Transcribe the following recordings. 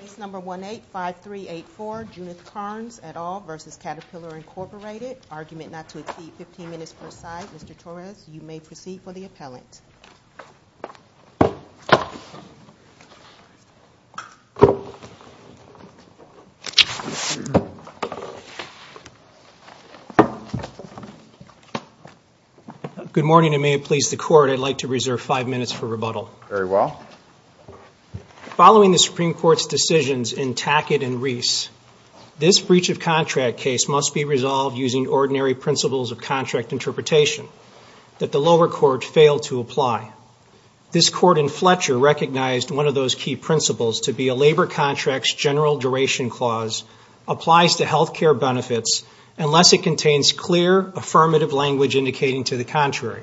Case number 18-5384, Junith Kerns et al. v. Caterpillar Incorporated. Argument not to exceed 15 minutes per side. Mr. Torres, you may proceed for the appellant. Good morning, and may it please the Court, I'd like to reserve five minutes for rebuttal. Very well. Following the Supreme Court's decisions in Tackett and Reese, this breach of contract case must be resolved using ordinary principles of contract interpretation that the lower court failed to apply. This Court in Fletcher recognized one of those key principles to be a labor contract's general duration clause applies to health care benefits unless it contains clear, affirmative language indicating to the contrary.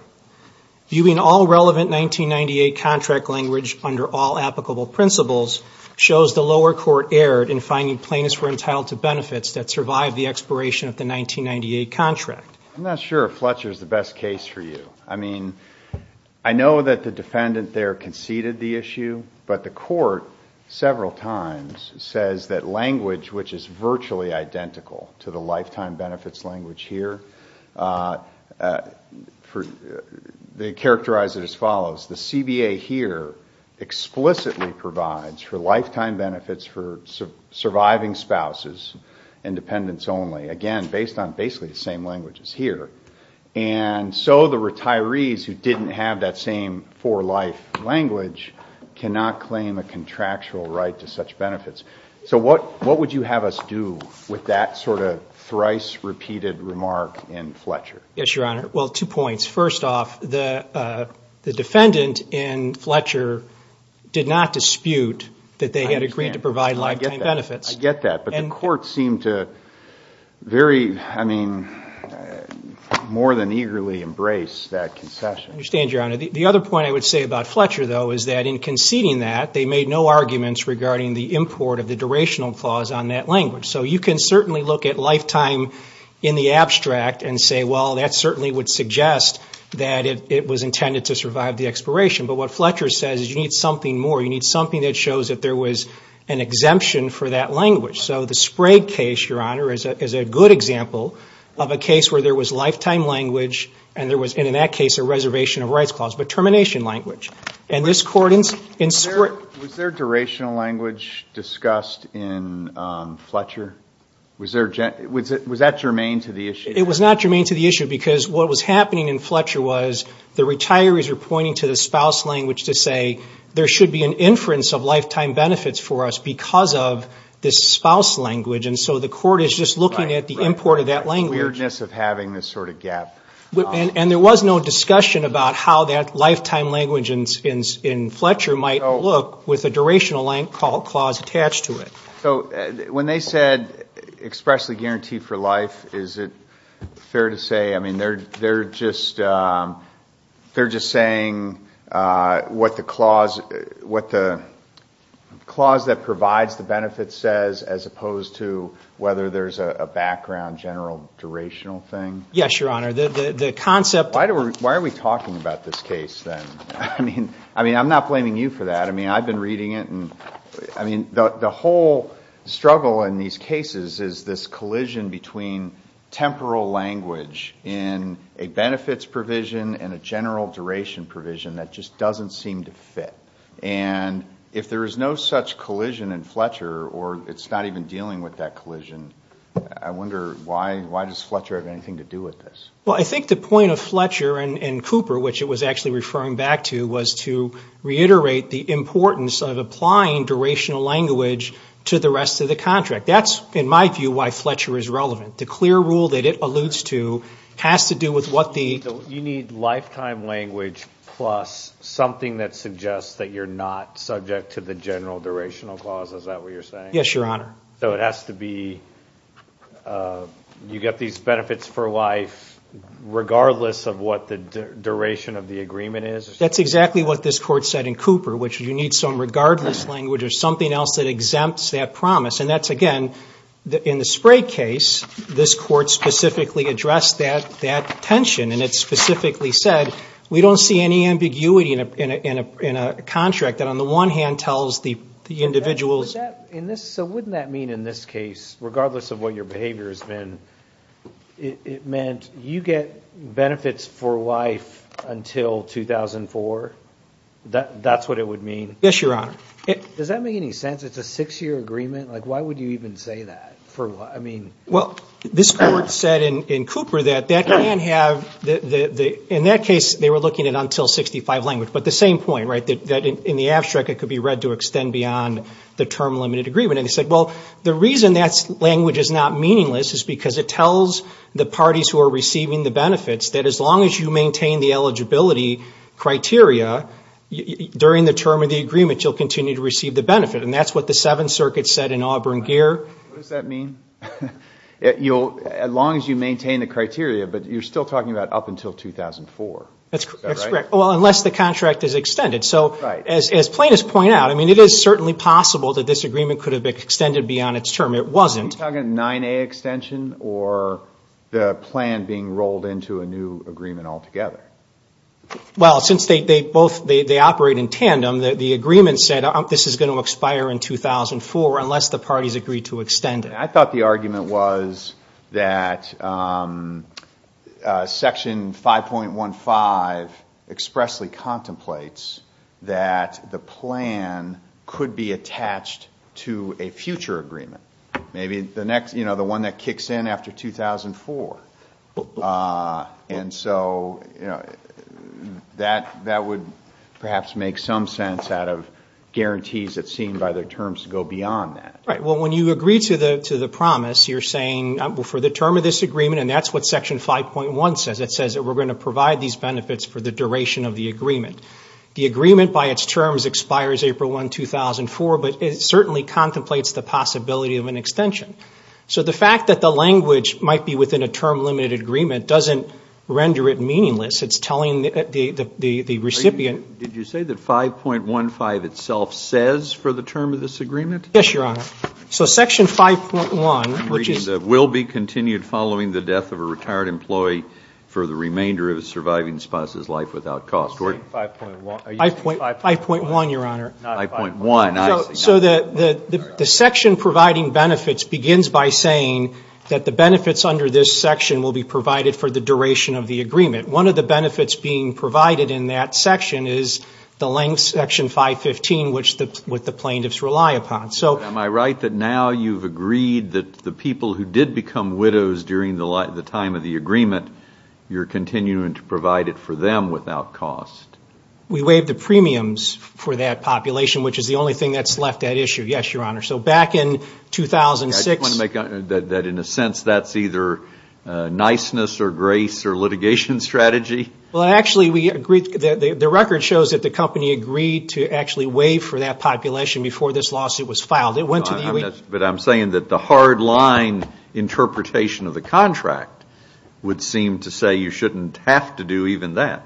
Viewing all relevant 1998 contract language under all applicable principles shows the lower court erred in finding plaintiffs were entitled to benefits that survived the expiration of the 1998 contract. I'm not sure if Fletcher is the best case for you. I mean, I know that the defendant there conceded the issue, but the Court several times says that language which is virtually identical to the lifetime benefits language here they characterize it as follows. The CBA here explicitly provides for lifetime benefits for surviving spouses and dependents only. Again, based on basically the same language as here. And so the retirees who didn't have that same for life language cannot claim a contractual right to such benefits. So what would you have us do with that sort of thrice repeated remark in Fletcher? Yes, Your Honor. Well, two points. First off, the defendant in Fletcher did not dispute that they had agreed to provide lifetime benefits. I get that, but the Court seemed to very, I mean, more than eagerly embrace that concession. I understand, Your Honor. The other point I would say about Fletcher, though, is that in conceding that they made no arguments regarding the import of the durational clause on that language. So you can certainly look at lifetime in the abstract and say, well, that certainly would suggest that it was intended to survive the expiration. But what Fletcher says is you need something more. You need something that shows that there was an exemption for that language. So the Sprague case, Your Honor, is a good example of a case where there was lifetime language and there was, in that case, a reservation of rights clause, but termination language. Was there durational language discussed in Fletcher? Was that germane to the issue? It was not germane to the issue because what was happening in Fletcher was the retirees were pointing to the spouse language to say there should be an inference of lifetime benefits for us because of this spouse language. And so the court is just looking at the import of that language. The weirdness of having this sort of gap. And there was no discussion about how that lifetime language in Fletcher might look with a durational clause attached to it. So when they said expressly guaranteed for life, is it fair to say, I mean, they're just saying what the clause that provides the benefit says as opposed to whether there's a background general durational thing? Yes, Your Honor. Why are we talking about this case then? I mean, I'm not blaming you for that. I mean, I've been reading it. I mean, the whole struggle in these cases is this collision between temporal language in a benefits provision and a general duration provision that just doesn't seem to fit. And if there is no such collision in Fletcher or it's not even dealing with that collision, I wonder why does Fletcher have anything to do with this? Well, I think the point of Fletcher and Cooper, which it was actually referring back to, was to reiterate the importance of applying durational language to the rest of the contract. That's, in my view, why Fletcher is relevant. The clear rule that it alludes to has to do with what the- You need lifetime language plus something that suggests that you're not subject to the general durational clause. Is that what you're saying? Yes, Your Honor. So it has to be you get these benefits for life regardless of what the duration of the agreement is? That's exactly what this Court said in Cooper, which you need some regardless language or something else that exempts that promise. And that's, again, in the Spray case, this Court specifically addressed that tension. And it specifically said we don't see any ambiguity in a contract that on the one hand tells the individuals- So wouldn't that mean in this case, regardless of what your behavior has been, it meant you get benefits for life until 2004? That's what it would mean? Yes, Your Honor. Does that make any sense? It's a six-year agreement. Why would you even say that? Well, this Court said in Cooper that that can have- in that case, they were looking at until 65 language. But the same point, right, that in the abstract it could be read to extend beyond the term limited agreement. And they said, well, the reason that language is not meaningless is because it tells the parties who are receiving the benefits that as long as you maintain the eligibility criteria during the term of the agreement, you'll continue to receive the benefit. And that's what the Seventh Circuit said in Auburn-Gear. What does that mean? As long as you maintain the criteria, but you're still talking about up until 2004. That's correct. Well, unless the contract is extended. So as plaintiffs point out, I mean, it is certainly possible that this agreement could have been extended beyond its term. It wasn't. Are you talking a 9A extension or the plan being rolled into a new agreement altogether? Well, since they both operate in tandem, the agreement said this is going to expire in 2004 unless the parties agree to extend it. I thought the argument was that Section 5.15 expressly contemplates that the plan could be attached to a future agreement, maybe the one that kicks in after 2004. And so that would perhaps make some sense out of guarantees that seem by their terms to go beyond that. Right. Well, when you agree to the promise, you're saying for the term of this agreement, and that's what Section 5.1 says. It says that we're going to provide these benefits for the duration of the agreement. The agreement by its terms expires April 1, 2004, but it certainly contemplates the possibility of an extension. So the fact that the language might be within a term-limited agreement doesn't render it meaningless. It's telling the recipient. Did you say that 5.15 itself says for the term of this agreement? Yes, Your Honor. So Section 5.1, which is- I'm reading that will be continued following the death of a retired employee for the remainder of a surviving spouse's life without cost. 5.1. 5.1, Your Honor. Not 5.1. So the section providing benefits begins by saying that the benefits under this section will be provided for the duration of the agreement. One of the benefits being provided in that section is the length, Section 5.15, which the plaintiffs rely upon. Am I right that now you've agreed that the people who did become widows during the time of the agreement, you're continuing to provide it for them without cost? We waived the premiums for that population, which is the only thing that's left at issue, yes, Your Honor. So back in 2006- I just want to make that in a sense that's either niceness or grace or litigation strategy. Well, actually, the record shows that the company agreed to actually waive for that population before this lawsuit was filed. It went to the U.S. But I'm saying that the hard line interpretation of the contract would seem to say you shouldn't have to do even that.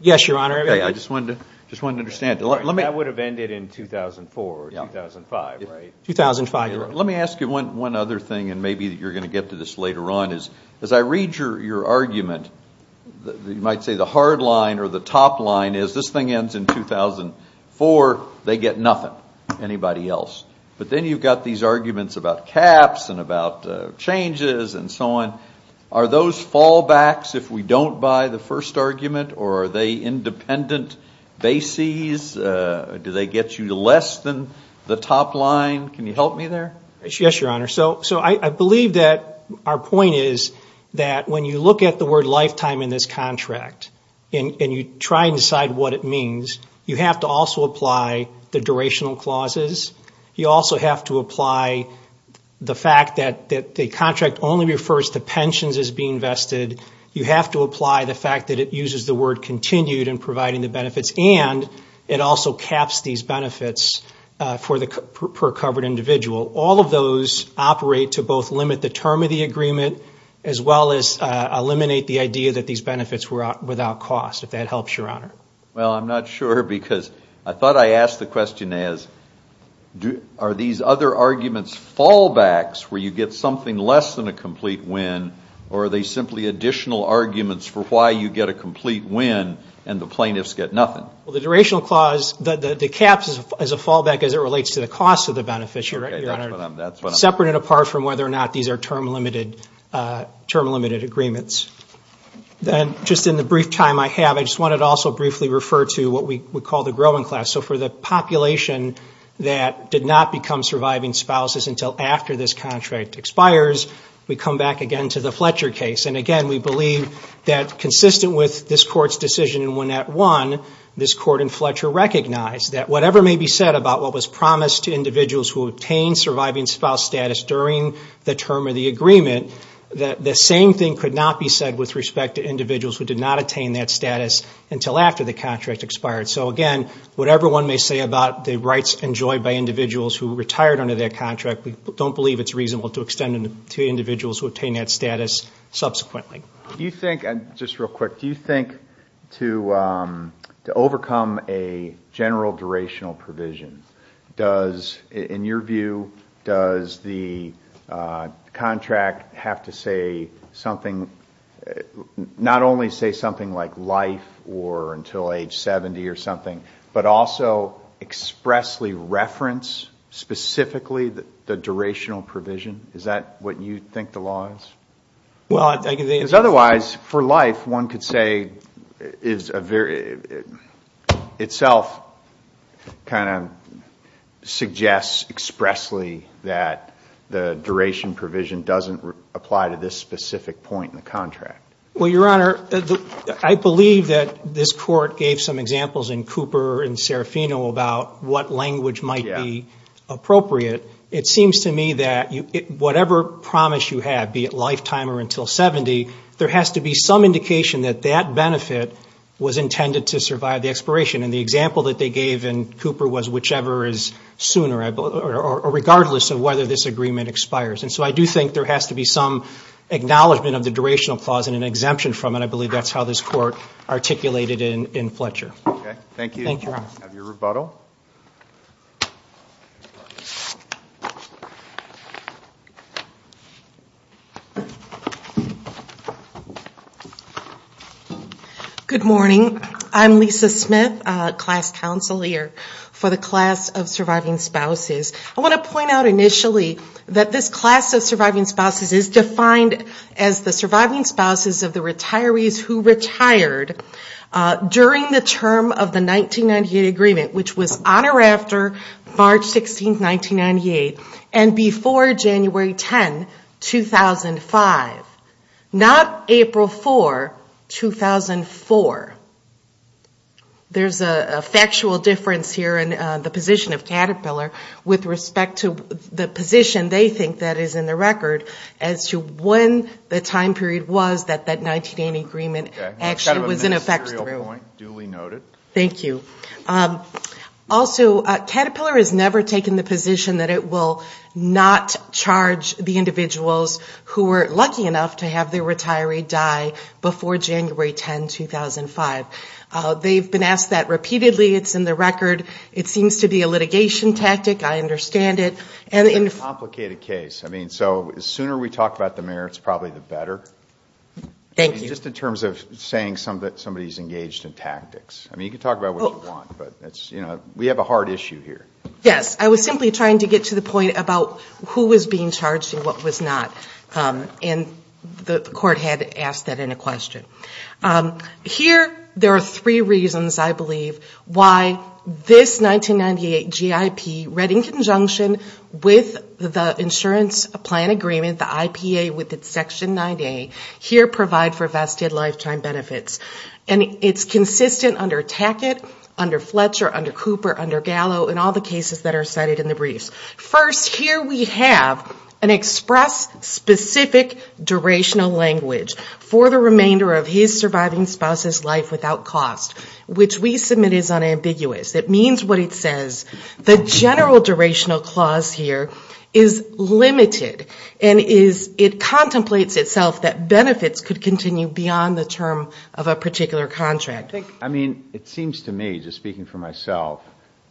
Yes, Your Honor. I just wanted to understand. That would have ended in 2004 or 2005, right? 2005, Your Honor. But let me ask you one other thing, and maybe you're going to get to this later on. As I read your argument, you might say the hard line or the top line is this thing ends in 2004, they get nothing, anybody else. But then you've got these arguments about caps and about changes and so on. Are those fallbacks if we don't buy the first argument, or are they independent bases? Do they get you less than the top line? Can you help me there? Yes, Your Honor. So I believe that our point is that when you look at the word lifetime in this contract and you try and decide what it means, you have to also apply the durational clauses. You also have to apply the fact that the contract only refers to pensions as being vested. You have to apply the fact that it uses the word continued in providing the benefits, and it also caps these benefits per covered individual. All of those operate to both limit the term of the agreement as well as eliminate the idea that these benefits were without cost, if that helps, Your Honor. Well, I'm not sure because I thought I asked the question as, are these other arguments fallbacks where you get something less than a complete win, or are they simply additional arguments for why you get a complete win and the plaintiffs get nothing? Well, the durational clause, the caps is a fallback as it relates to the cost of the benefits, Your Honor, separate and apart from whether or not these are term-limited agreements. And just in the brief time I have, I just wanted to also briefly refer to what we call the growing class. So for the population that did not become surviving spouses until after this contract expires, we come back again to the Fletcher case. And again, we believe that consistent with this Court's decision in 1-1, this Court in Fletcher recognized that whatever may be said about what was promised to individuals who obtained surviving spouse status during the term of the agreement, the same thing could not be said with respect to individuals who did not attain that status until after the contract expired. So again, whatever one may say about the rights enjoyed by individuals who retired under that contract, we don't believe it's reasonable to extend it to individuals who obtain that status subsequently. Do you think, just real quick, do you think to overcome a general durational provision, does, in your view, does the contract have to say something, not only say something like life or until age 70 or something, but also expressly reference specifically the durational provision? Is that what you think the law is? Because otherwise, for life, one could say itself kind of suggests expressly that the duration provision doesn't apply to this specific point in the contract. Well, Your Honor, I believe that this Court gave some examples in Cooper and Serafino about what language might be appropriate. It seems to me that whatever promise you have, be it lifetime or until 70, there has to be some indication that that benefit was intended to survive the expiration. And the example that they gave in Cooper was whichever is sooner, regardless of whether this agreement expires. And so I do think there has to be some acknowledgment of the durational clause and an exemption from it. I believe that's how this Court articulated it in Fletcher. Okay. Thank you. Have your rebuttal. Good morning. I'm Lisa Smith, Class Counsel here for the Class of Surviving Spouses. I want to point out initially that this Class of Surviving Spouses is defined as the surviving spouses of the retirees who retired during the term of the 1998 agreement, which was on or after March 16, 1998, and before January 10, 2005. Not April 4, 2004. There's a factual difference here in the position of Caterpillar with respect to the position they think that is in the record as to when the time period was that that 1998 agreement actually was in effect through. Thank you. Also, Caterpillar has never taken the position that it will not charge the individuals who were lucky enough to have their retiree die before January 10, 2005. They've been asked that repeatedly. It's in the record. It seems to be a litigation tactic. I understand it. It's a complicated case. I mean, so the sooner we talk about the merits, probably the better. Thank you. Just in terms of saying somebody's engaged in tactics. I mean, you can talk about what you want, but we have a hard issue here. Yes, I was simply trying to get to the point about who was being charged and what was not. And the court had asked that in a question. Here, there are three reasons, I believe, why this 1998 GIP read in conjunction with the insurance plan agreement, the IPA with its Section 9A, here provide for vested lifetime benefits. And it's consistent under Tackett, under Fletcher, under Cooper, under Gallo, and all the cases that are cited in the briefs. First, here we have an express specific durational language for the remainder of his surviving spouse's life without cost, which we submit is unambiguous. It means what it says. The general durational clause here is limited, and it contemplates itself that benefits could continue beyond the term of a lifetime. I mean, it seems to me, just speaking for myself,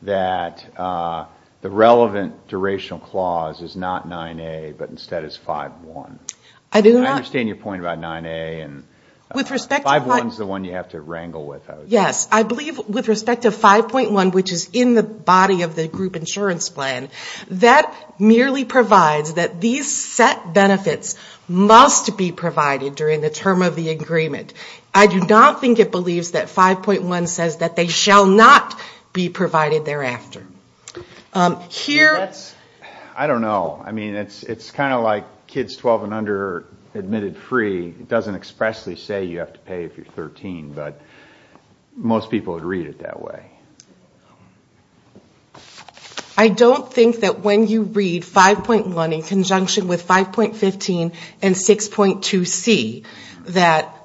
that the relevant durational clause is not 9A, but instead is 5.1. I understand your point about 9A, and 5.1 is the one you have to wrangle with. Yes, I believe with respect to 5.1, which is in the body of the group insurance plan, that merely provides that these set benefits must be provided during the term of the agreement. I do not think it believes that 5.1 says that they shall not be provided thereafter. I don't know. I mean, it's kind of like kids 12 and under admitted free. It doesn't expressly say you have to pay if you're 13, but most people would read it that way. I don't think that when you read 5.1 in conjunction with 5.15 and 6.2C, that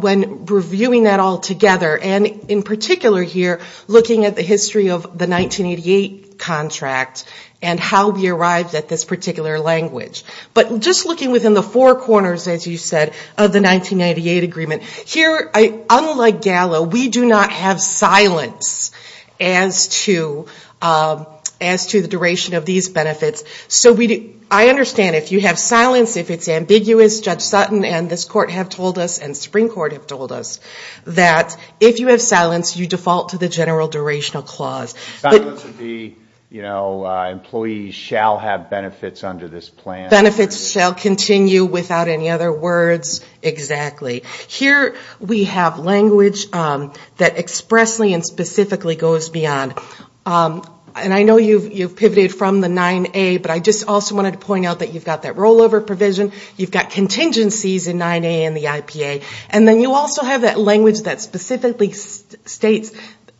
when reviewing that all together, and in particular here, looking at the history of the 1988 contract and how we arrived at this particular language, but just looking within the four corners, as you said, of the 1998 agreement, here, unlike Gallo, we do not have silence as to the duration of these benefits. So I understand if you have silence, if it's ambiguous, Judge Sutton and this Court have told us, and Supreme Court have told us, that if you have silence, you default to the general durational clause. Silence would be, you know, employees shall have benefits under this plan. Benefits shall continue without any other words, exactly. Here we have language that expressly and specifically goes beyond. And I know you've pivoted from the 9A, but I just also wanted to point out that you've got that rollover provision, you've got contingencies in 9A and the IPA, and then you also have that language that specifically states,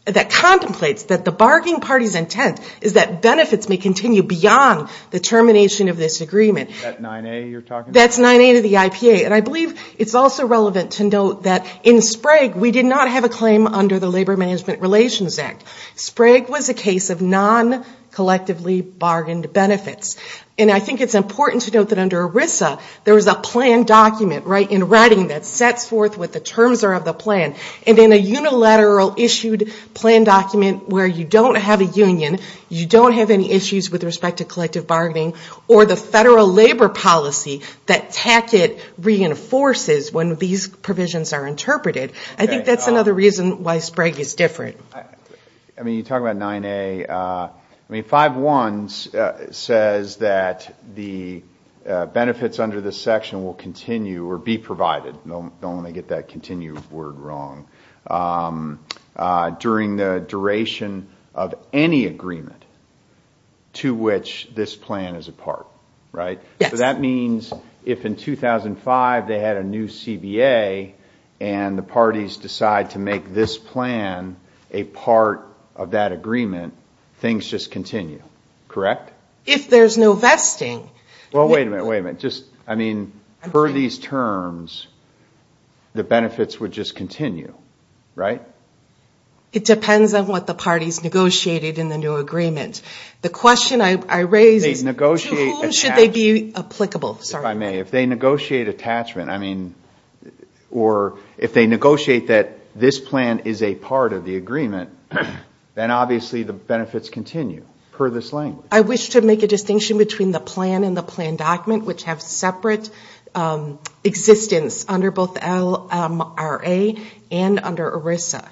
that contemplates that the bargaining party's intent is that benefits may continue beyond the termination of this agreement. Is that 9A you're talking about? That's 9A to the IPA. And I believe it's also relevant to note that in Sprague, we did not have a claim under the Labor Management Relations Act. Sprague was a case of non-collectively bargained benefits. And I think it's important to note that under ERISA, there was a plan document, right, the writing that sets forth what the terms are of the plan. And in a unilateral issued plan document where you don't have a union, you don't have any issues with respect to collective bargaining, or the federal labor policy that TACIT reinforces when these provisions are interpreted, I think that's another reason why Sprague is different. I mean, you talk about 9A. I mean, 5.1 says that the benefits under this section will continue or be provided, don't let me get that continue word wrong, during the duration of any agreement to which this plan is a part, right? So that means if in 2005 they had a new CBA and the parties decide to make this plan, a part of that agreement, things just continue, correct? If there's no vesting. Well, wait a minute, wait a minute, just, I mean, per these terms, the benefits would just continue, right? It depends on what the parties negotiated in the new agreement. The question I raise is to whom should they be applicable? If I may, if they negotiate attachment, or if they negotiate that this plan is a part of the agreement, then obviously the benefits continue, per this language. I wish to make a distinction between the plan and the plan document, which have separate existence under both LRA and under ERISA.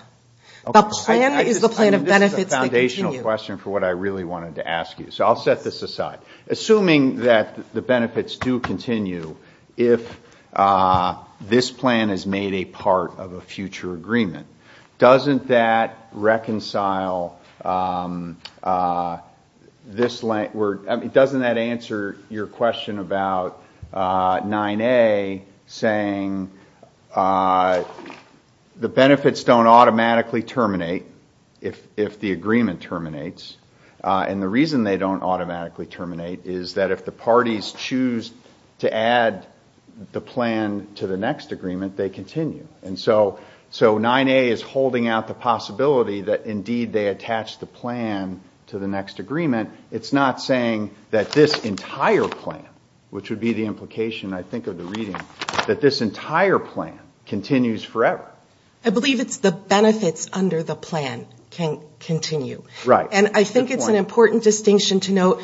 The plan is the plan of benefits that continue. That's a great question for what I really wanted to ask you. So I'll set this aside. Assuming that the benefits do continue, if this plan is made a part of a future agreement, doesn't that answer your question about 9A saying the benefits don't automatically terminate, if the agreement terminates? And the reason they don't automatically terminate is that if the parties choose to add the plan to the next agreement, they continue. And so 9A is holding out the possibility that, indeed, they attach the plan to the next agreement. It's not saying that this entire plan, which would be the implication, I think, of the reading, that this entire plan continues forever. I believe it's the benefits under the plan can continue. Right. And I think it's an important distinction to note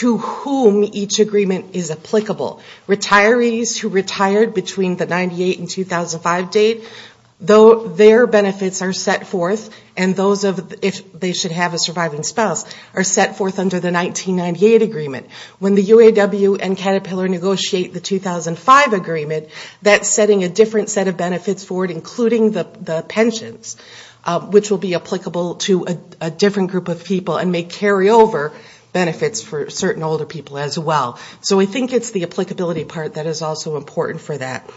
to whom each agreement is applicable. Retirees who retired between the 1998 and 2005 date, though their benefits are set forth, and those of if they should have a surviving spouse, are set forth under the 1998 agreement. When the UAW and Caterpillar negotiate the 2005 agreement, that's setting a different set of benefits forward, including the pensions, which will be applicable to a different group of people and may carry over benefits for certain older people as well. So I think it's the applicability part that is also important for that.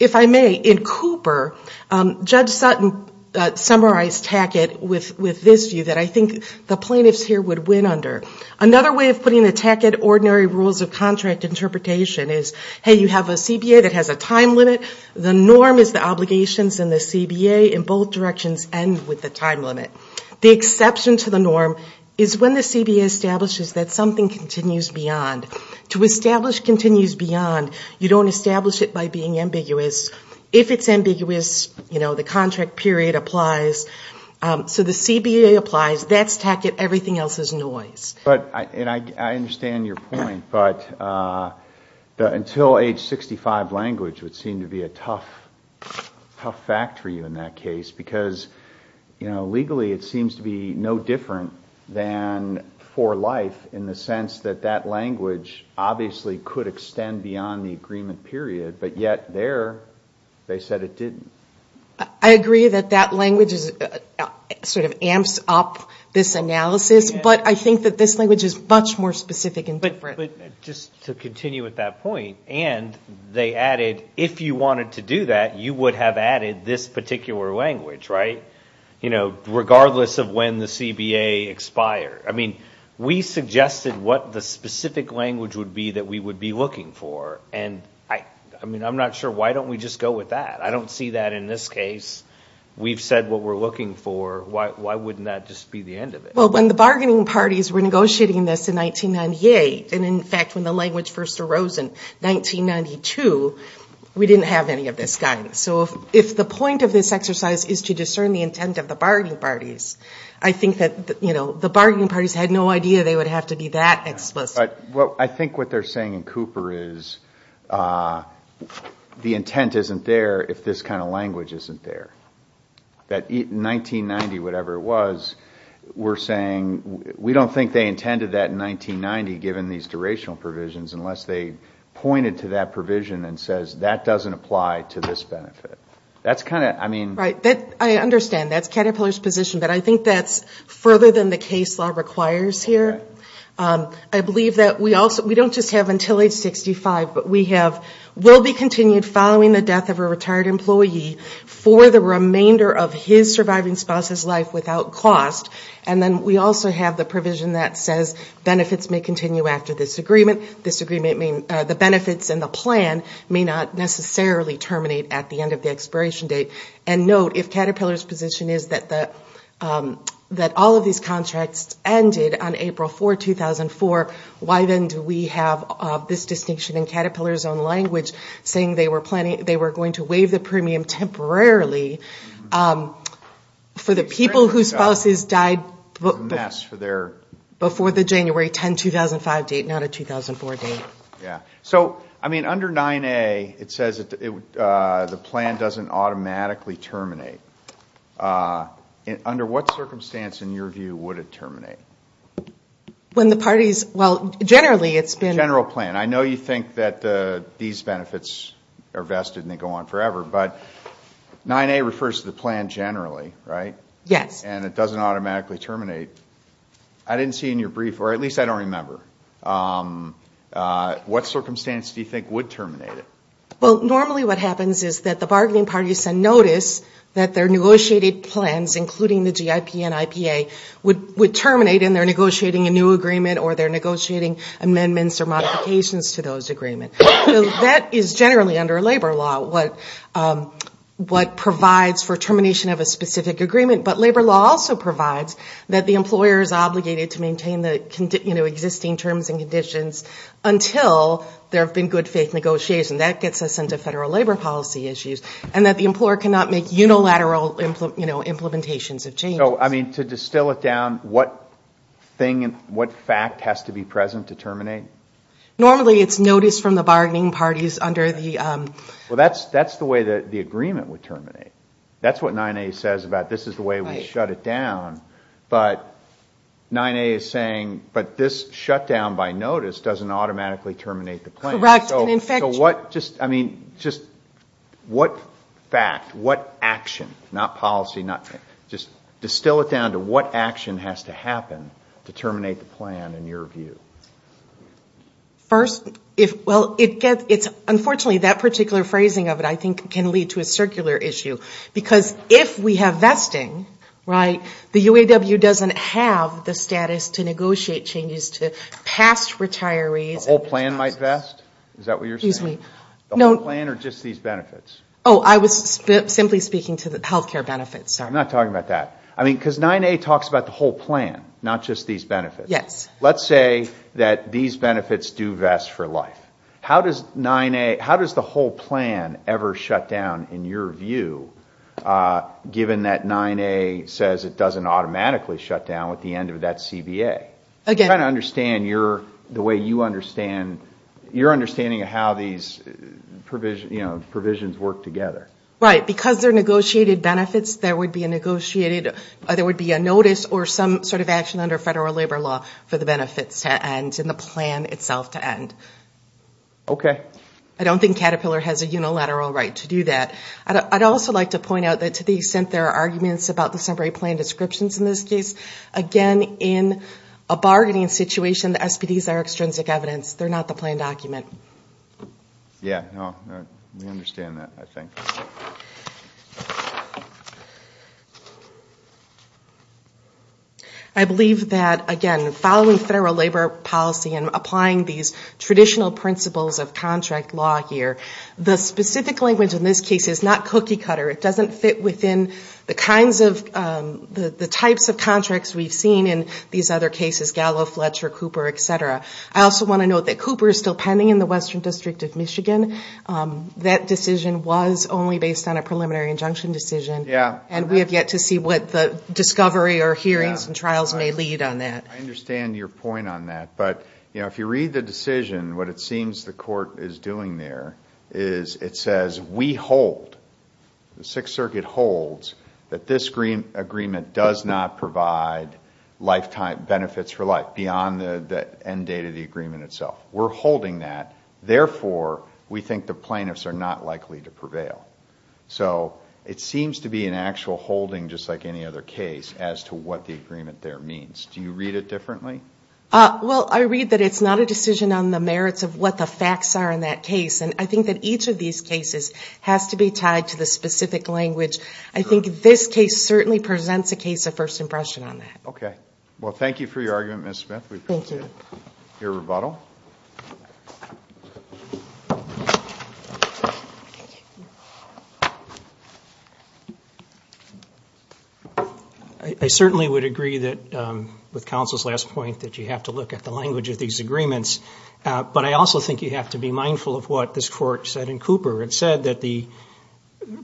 If I may, in Cooper, Judge Sutton summarized TAC-IT with this view that I think the plaintiffs here would win under. Another way of putting the TAC-IT ordinary rules of contract interpretation is, hey, you have a CBA that has a time limit, the norm is the obligations, and the CBA in both directions end with the time limit. The exception to the norm is when the CBA establishes that something continues beyond. To establish continues beyond, you don't establish it by being ambiguous. If it's ambiguous, you know, the contract period applies. So the CBA applies, that's TAC-IT, everything else is noise. But I understand your point, but until age 65, language would seem to be a tough fact for you in that case, because, you know, legally it seems to be no different than for life in the sense that that language obviously could extend beyond the agreement period, but yet there they said it didn't. I agree that that language sort of amps up this analysis, but I think that this language is much more specific and different. But just to continue with that point, and they added, if you wanted to do that, you would have added this particular language, right? You know, regardless of when the CBA expired. I mean, we suggested what the specific language would be that we would be looking for, and, I mean, I'm not sure, why don't we just go with that? I don't see that in this case. We've said what we're looking for. Why wouldn't that just be the end of it? Well, when the bargaining parties were negotiating this in 1998, and, in fact, when the language first arose in 1992, we didn't have any of this guidance. So if the point of this exercise is to discern the intent of the bargaining parties, I think that the bargaining parties had no idea they would have to be that explicit. I think what they're saying in Cooper is the intent isn't there if this kind of language isn't there. That in 1990, whatever it was, we're saying we don't think they intended that in 1990 given these durational provisions unless they pointed to that provision and said, that doesn't apply to this benefit. I understand that's Caterpillar's position, but I think that's further than the case law requires here. I believe that we don't just have until age 65, but we have will be continued following the death of a retired employee for the remainder of his surviving spouse's life without cost, and then we also have the provision that says benefits may continue after this agreement. This agreement means the benefits and the plan may not necessarily terminate at the end of the expiration date. And note, if Caterpillar's position is that all of these contracts ended on April 4, 2004, why then do we have this distinction in Caterpillar's own language, saying they were going to waive the premium temporarily for the people whose spouses died before the January 10, 2005 date, not a 2004 date? Yeah. So, I mean, under 9A, it says the plan doesn't automatically terminate. Under what circumstance, in your view, would it terminate? General plan. I know you think that these benefits are vested and they go on forever, but 9A refers to the plan generally, right? Yes. And it doesn't automatically terminate. I didn't see in your brief, or at least I don't remember, what circumstance do you think would terminate it? Well, normally what happens is that the bargaining parties notice that their negotiated plans, including the GIP and IPA, would terminate in their negotiating a new agreement or their negotiating amendments or modifications to those agreements. That is generally under labor law, what provides for termination of a specific agreement. But labor law also provides that the employer is obligated to maintain the existing terms and conditions until there have been good faith negotiations. And that gets us into federal labor policy issues, and that the employer cannot make unilateral implementations of changes. So, I mean, to distill it down, what fact has to be present to terminate? Normally it's notice from the bargaining parties under the... Well, that's the way the agreement would terminate. That's what 9A says about this is the way we shut it down. But 9A is saying, but this shutdown by notice doesn't automatically terminate the plan. Correct. I mean, just what fact, what action, not policy, just distill it down to what action has to happen to terminate the plan in your view? First, well, unfortunately that particular phrasing of it I think can lead to a circular issue. Because if we have vesting, right, the UAW doesn't have the status to negotiate changes to past retirees. The whole plan might vest? Is that what you're saying? The whole plan or just these benefits? Oh, I was simply speaking to the health care benefits. I'm not talking about that. I mean, because 9A talks about the whole plan, not just these benefits. Yes. Let's say that these benefits do vest for life. How does 9A, how does the whole plan ever shut down in your view, given that 9A says it doesn't automatically shut down at the end of that CBA? I'm trying to understand the way you understand, your understanding of how these provisions work together. Right. Because they're negotiated benefits, there would be a notice or some sort of action under federal labor law for the benefits to end and the plan itself to end. Okay. I don't think Caterpillar has a unilateral right to do that. I'd also like to point out that to the extent there are arguments about the summary plan descriptions in this case, again, in a bargaining situation, the SPDs are extrinsic evidence. They're not the plan document. I believe that, again, following federal labor policy and applying these traditional principles of contract law here, the specific language in this case is not cookie cutter. It doesn't fit within the types of contracts we've seen in these other cases, Gallo, Fletcher, Cooper, et cetera. I also want to note that Cooper is still pending in the Western District of Michigan. That decision was only based on a preliminary injunction decision. And we have yet to see what the discovery or hearings and trials may lead on that. I understand your point on that, but if you read the decision, what it seems the court is doing there is it says we hold, the Sixth Circuit holds, that this agreement does not provide lifetime benefits for life beyond the end date of the agreement itself. We're holding that. Therefore, we think the plaintiffs are not likely to prevail. So it seems to be an actual holding, just like any other case, as to what the agreement there means. Do you read it differently? Well, I read that it's not a decision on the merits of what the facts are in that case. And I think that each of these cases has to be tied to the specific language. I think this case certainly presents a case of first impression on that. Okay. Well, thank you for your argument, Ms. Smith. We appreciate your rebuttal. I certainly would agree that, with counsel's last point, that you have to look at the language of these agreements. But I also think you have to be mindful of what this court said in Cooper. It said that the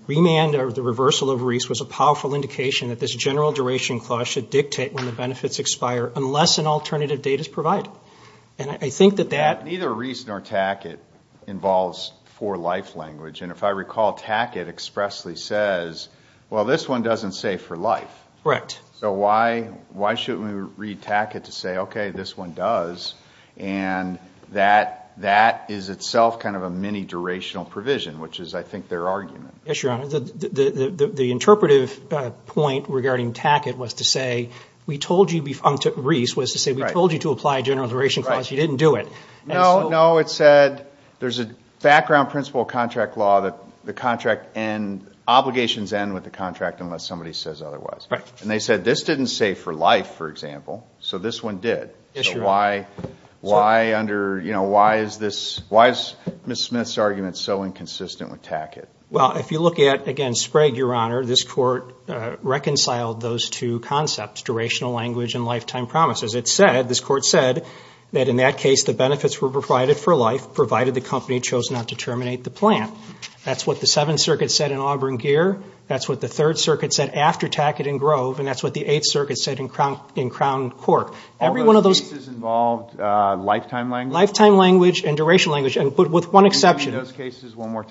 remand or the reversal of Reese was a powerful indication that this general duration clause should dictate when the benefits expire unless an alternative date is provided. Neither Reese nor Tackett involves for life language. And if I recall, Tackett expressly says, well, this one doesn't say for life. So why shouldn't we read Tackett to say, okay, this one does? And that is itself kind of a mini-durational provision, which is, I think, their argument. Yes, Your Honor. The interpretive point regarding Tackett was to say, we told you to apply a general duration clause. You didn't do it. No, no. It said there's a background principle of contract law that the contract and obligations end with the contract unless somebody says otherwise. And they said this didn't say for life, for example, so this one did. So why under, you know, why is this, why is Ms. Smith's argument so inconsistent with Tackett? Well, if you look at, again, Sprague, Your Honor, this court reconciled those two concepts, durational language and lifetime promises. It said, this court said, that in that case the benefits were provided for life, provided the company chose not to terminate the plant. That's what the Seventh Circuit said in Auburn Gear. That's what the Third Circuit said after Tackett and Grove. And that's what the Eighth Circuit said in Crown Cork. All those cases involved lifetime language? Lifetime language and duration language, with one exception.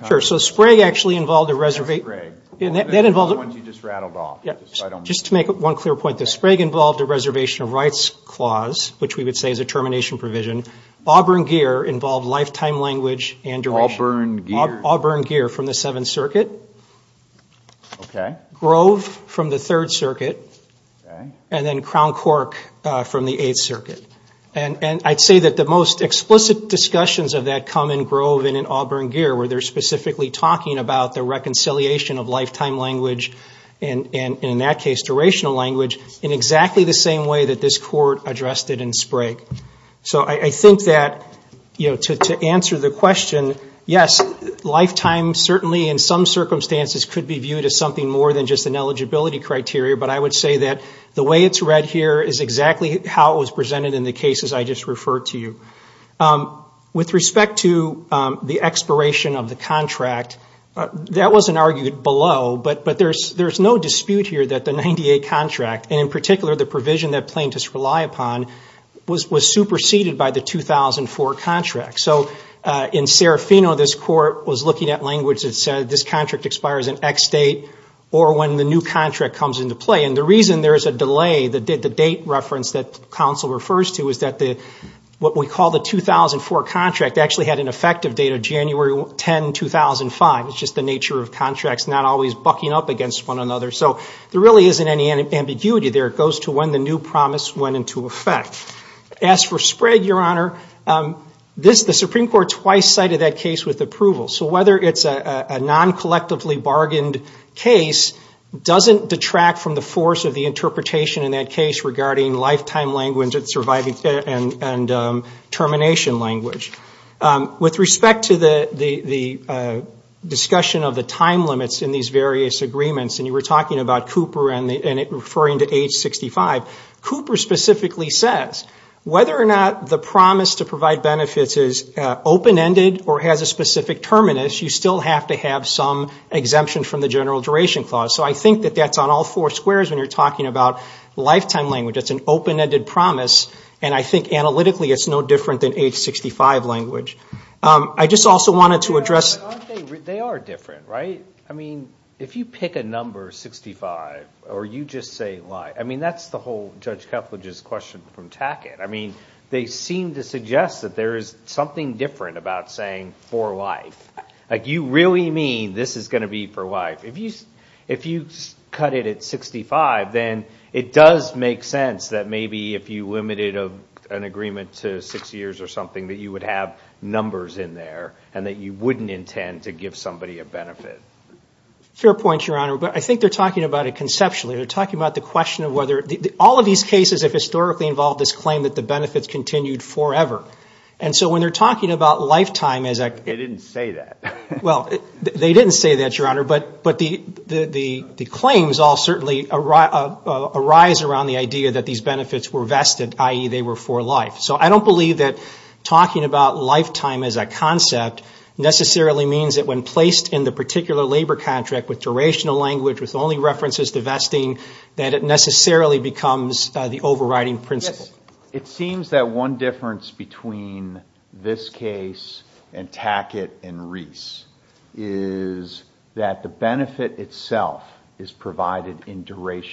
Sure, so Sprague actually involved a reservation. Just to make one clear point, Sprague involved a reservation of rights clause, which we would say is a termination provision. Auburn Gear involved lifetime language and duration. Auburn Gear from the Seventh Circuit. Grove from the Third Circuit. And then Crown Cork from the Eighth Circuit. And I'd say that the most explicit discussions of that come in Grove and in Auburn Gear, where they're specifically talking about the reconciliation of lifetime language and, in that case, durational language, in exactly the same way that this court addressed it in Sprague. So I think that, you know, to answer the question, yes, lifetime, certainly in some circumstances, could be viewed as something more than just an eligibility criteria. But I would say that the way it's read here is exactly how it was presented in the cases I just referred to you. With respect to the expiration of the contract, that wasn't argued below, but there's no dispute here that the 98 contract, and in particular the provision that plaintiffs rely upon, was superseded by the 2004 contract. So in Serafino, this court was looking at language that said this contract expires in X date or when the new contract comes into play. And the reason there's a delay, the date reference that counsel refers to, is that what we call the 2004 contract actually had an effective date of January 10, 2005. It's just the nature of contracts, not always bucking up against one another. So there really isn't any ambiguity there. It goes to when the new promise went into effect. As for spread, Your Honor, the Supreme Court twice cited that case with approval. So whether it's a non-collectively bargained case doesn't detract from the force of the interpretation in that case regarding lifetime language and termination language. With respect to the discussion of the time limits in these various agreements, and you were talking about Cooper and referring to H-65, Cooper specifically says whether or not the promise to provide benefits is open-ended or has a specific terminus, you still have to have some exemption from the general duration clause. So I think that that's on all four squares when you're talking about lifetime language. It's an open-ended promise, and I think analytically it's no different than H-65 language. I just also wanted to address... They are different, right? I mean, if you pick a number, 65, or you just say life, I mean, that's the whole Judge Kepledge's question from Tackett. I mean, they seem to suggest that there is something different about saying for life. Like, you really mean this is going to be for life? If you cut it at 65, then it does make sense that maybe if you limited an agreement to six years or something that you would have numbers in there and that you wouldn't intend to give somebody a benefit. Fair point, Your Honor, but I think they're talking about it conceptually. They're talking about the question of whether all of these cases have historically involved this claim that the benefits continued forever. And so when they're talking about lifetime as a... arise around the idea that these benefits were vested, i.e., they were for life. So I don't believe that talking about lifetime as a concept necessarily means that when placed in the particular labor contract with durational language, with only references to vesting, that it necessarily becomes the overriding principle. It seems that one difference between this case and Tackett and Reese is that the benefit itself is provided in duration.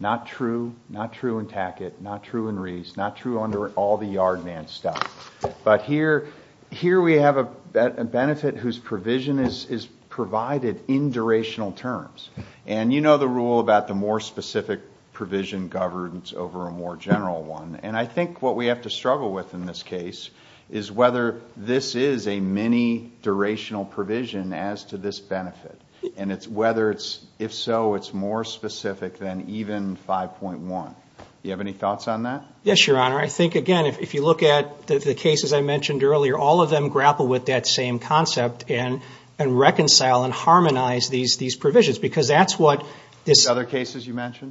Not true in Tackett, not true in Reese, not true under all the yard man stuff. But here we have a benefit whose provision is provided in durational terms. And you know the rule about the more specific provision governs over a more general one. And I think what we have to struggle with in this case is whether this is a mini-durational provision as to this benefit. And it's whether it's, if so, it's more specific than even 5.1. Do you have any thoughts on that? Yes, Your Honor. I think, again, if you look at the cases I mentioned earlier, all of them grapple with that same concept and reconcile and harmonize these provisions. Because that's what this...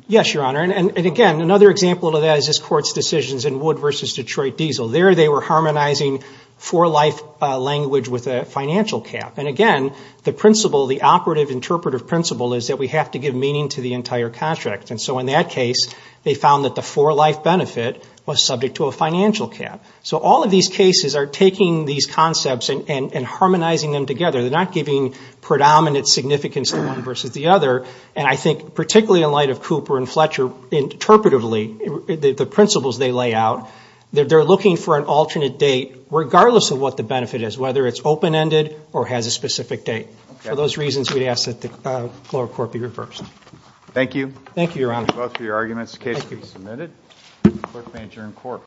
Yes, Your Honor, and again, another example of that is this Court's decisions in Wood v. Detroit Diesel. There they were harmonizing for-life language with a financial cap. And again, the principle, the operative interpretive principle is that we have to give meaning to the entire contract. And so in that case, they found that the for-life benefit was subject to a financial cap. So all of these cases are taking these concepts and harmonizing them together. They're not giving predominant significance to one versus the other. And I think, particularly in light of Cooper and Fletcher interpretively, the principles they lay out, they're looking for an alternate date regardless of what the benefit is, whether it's open-ended or has a specific date. For those reasons, we'd ask that the court be reversed. Thank you.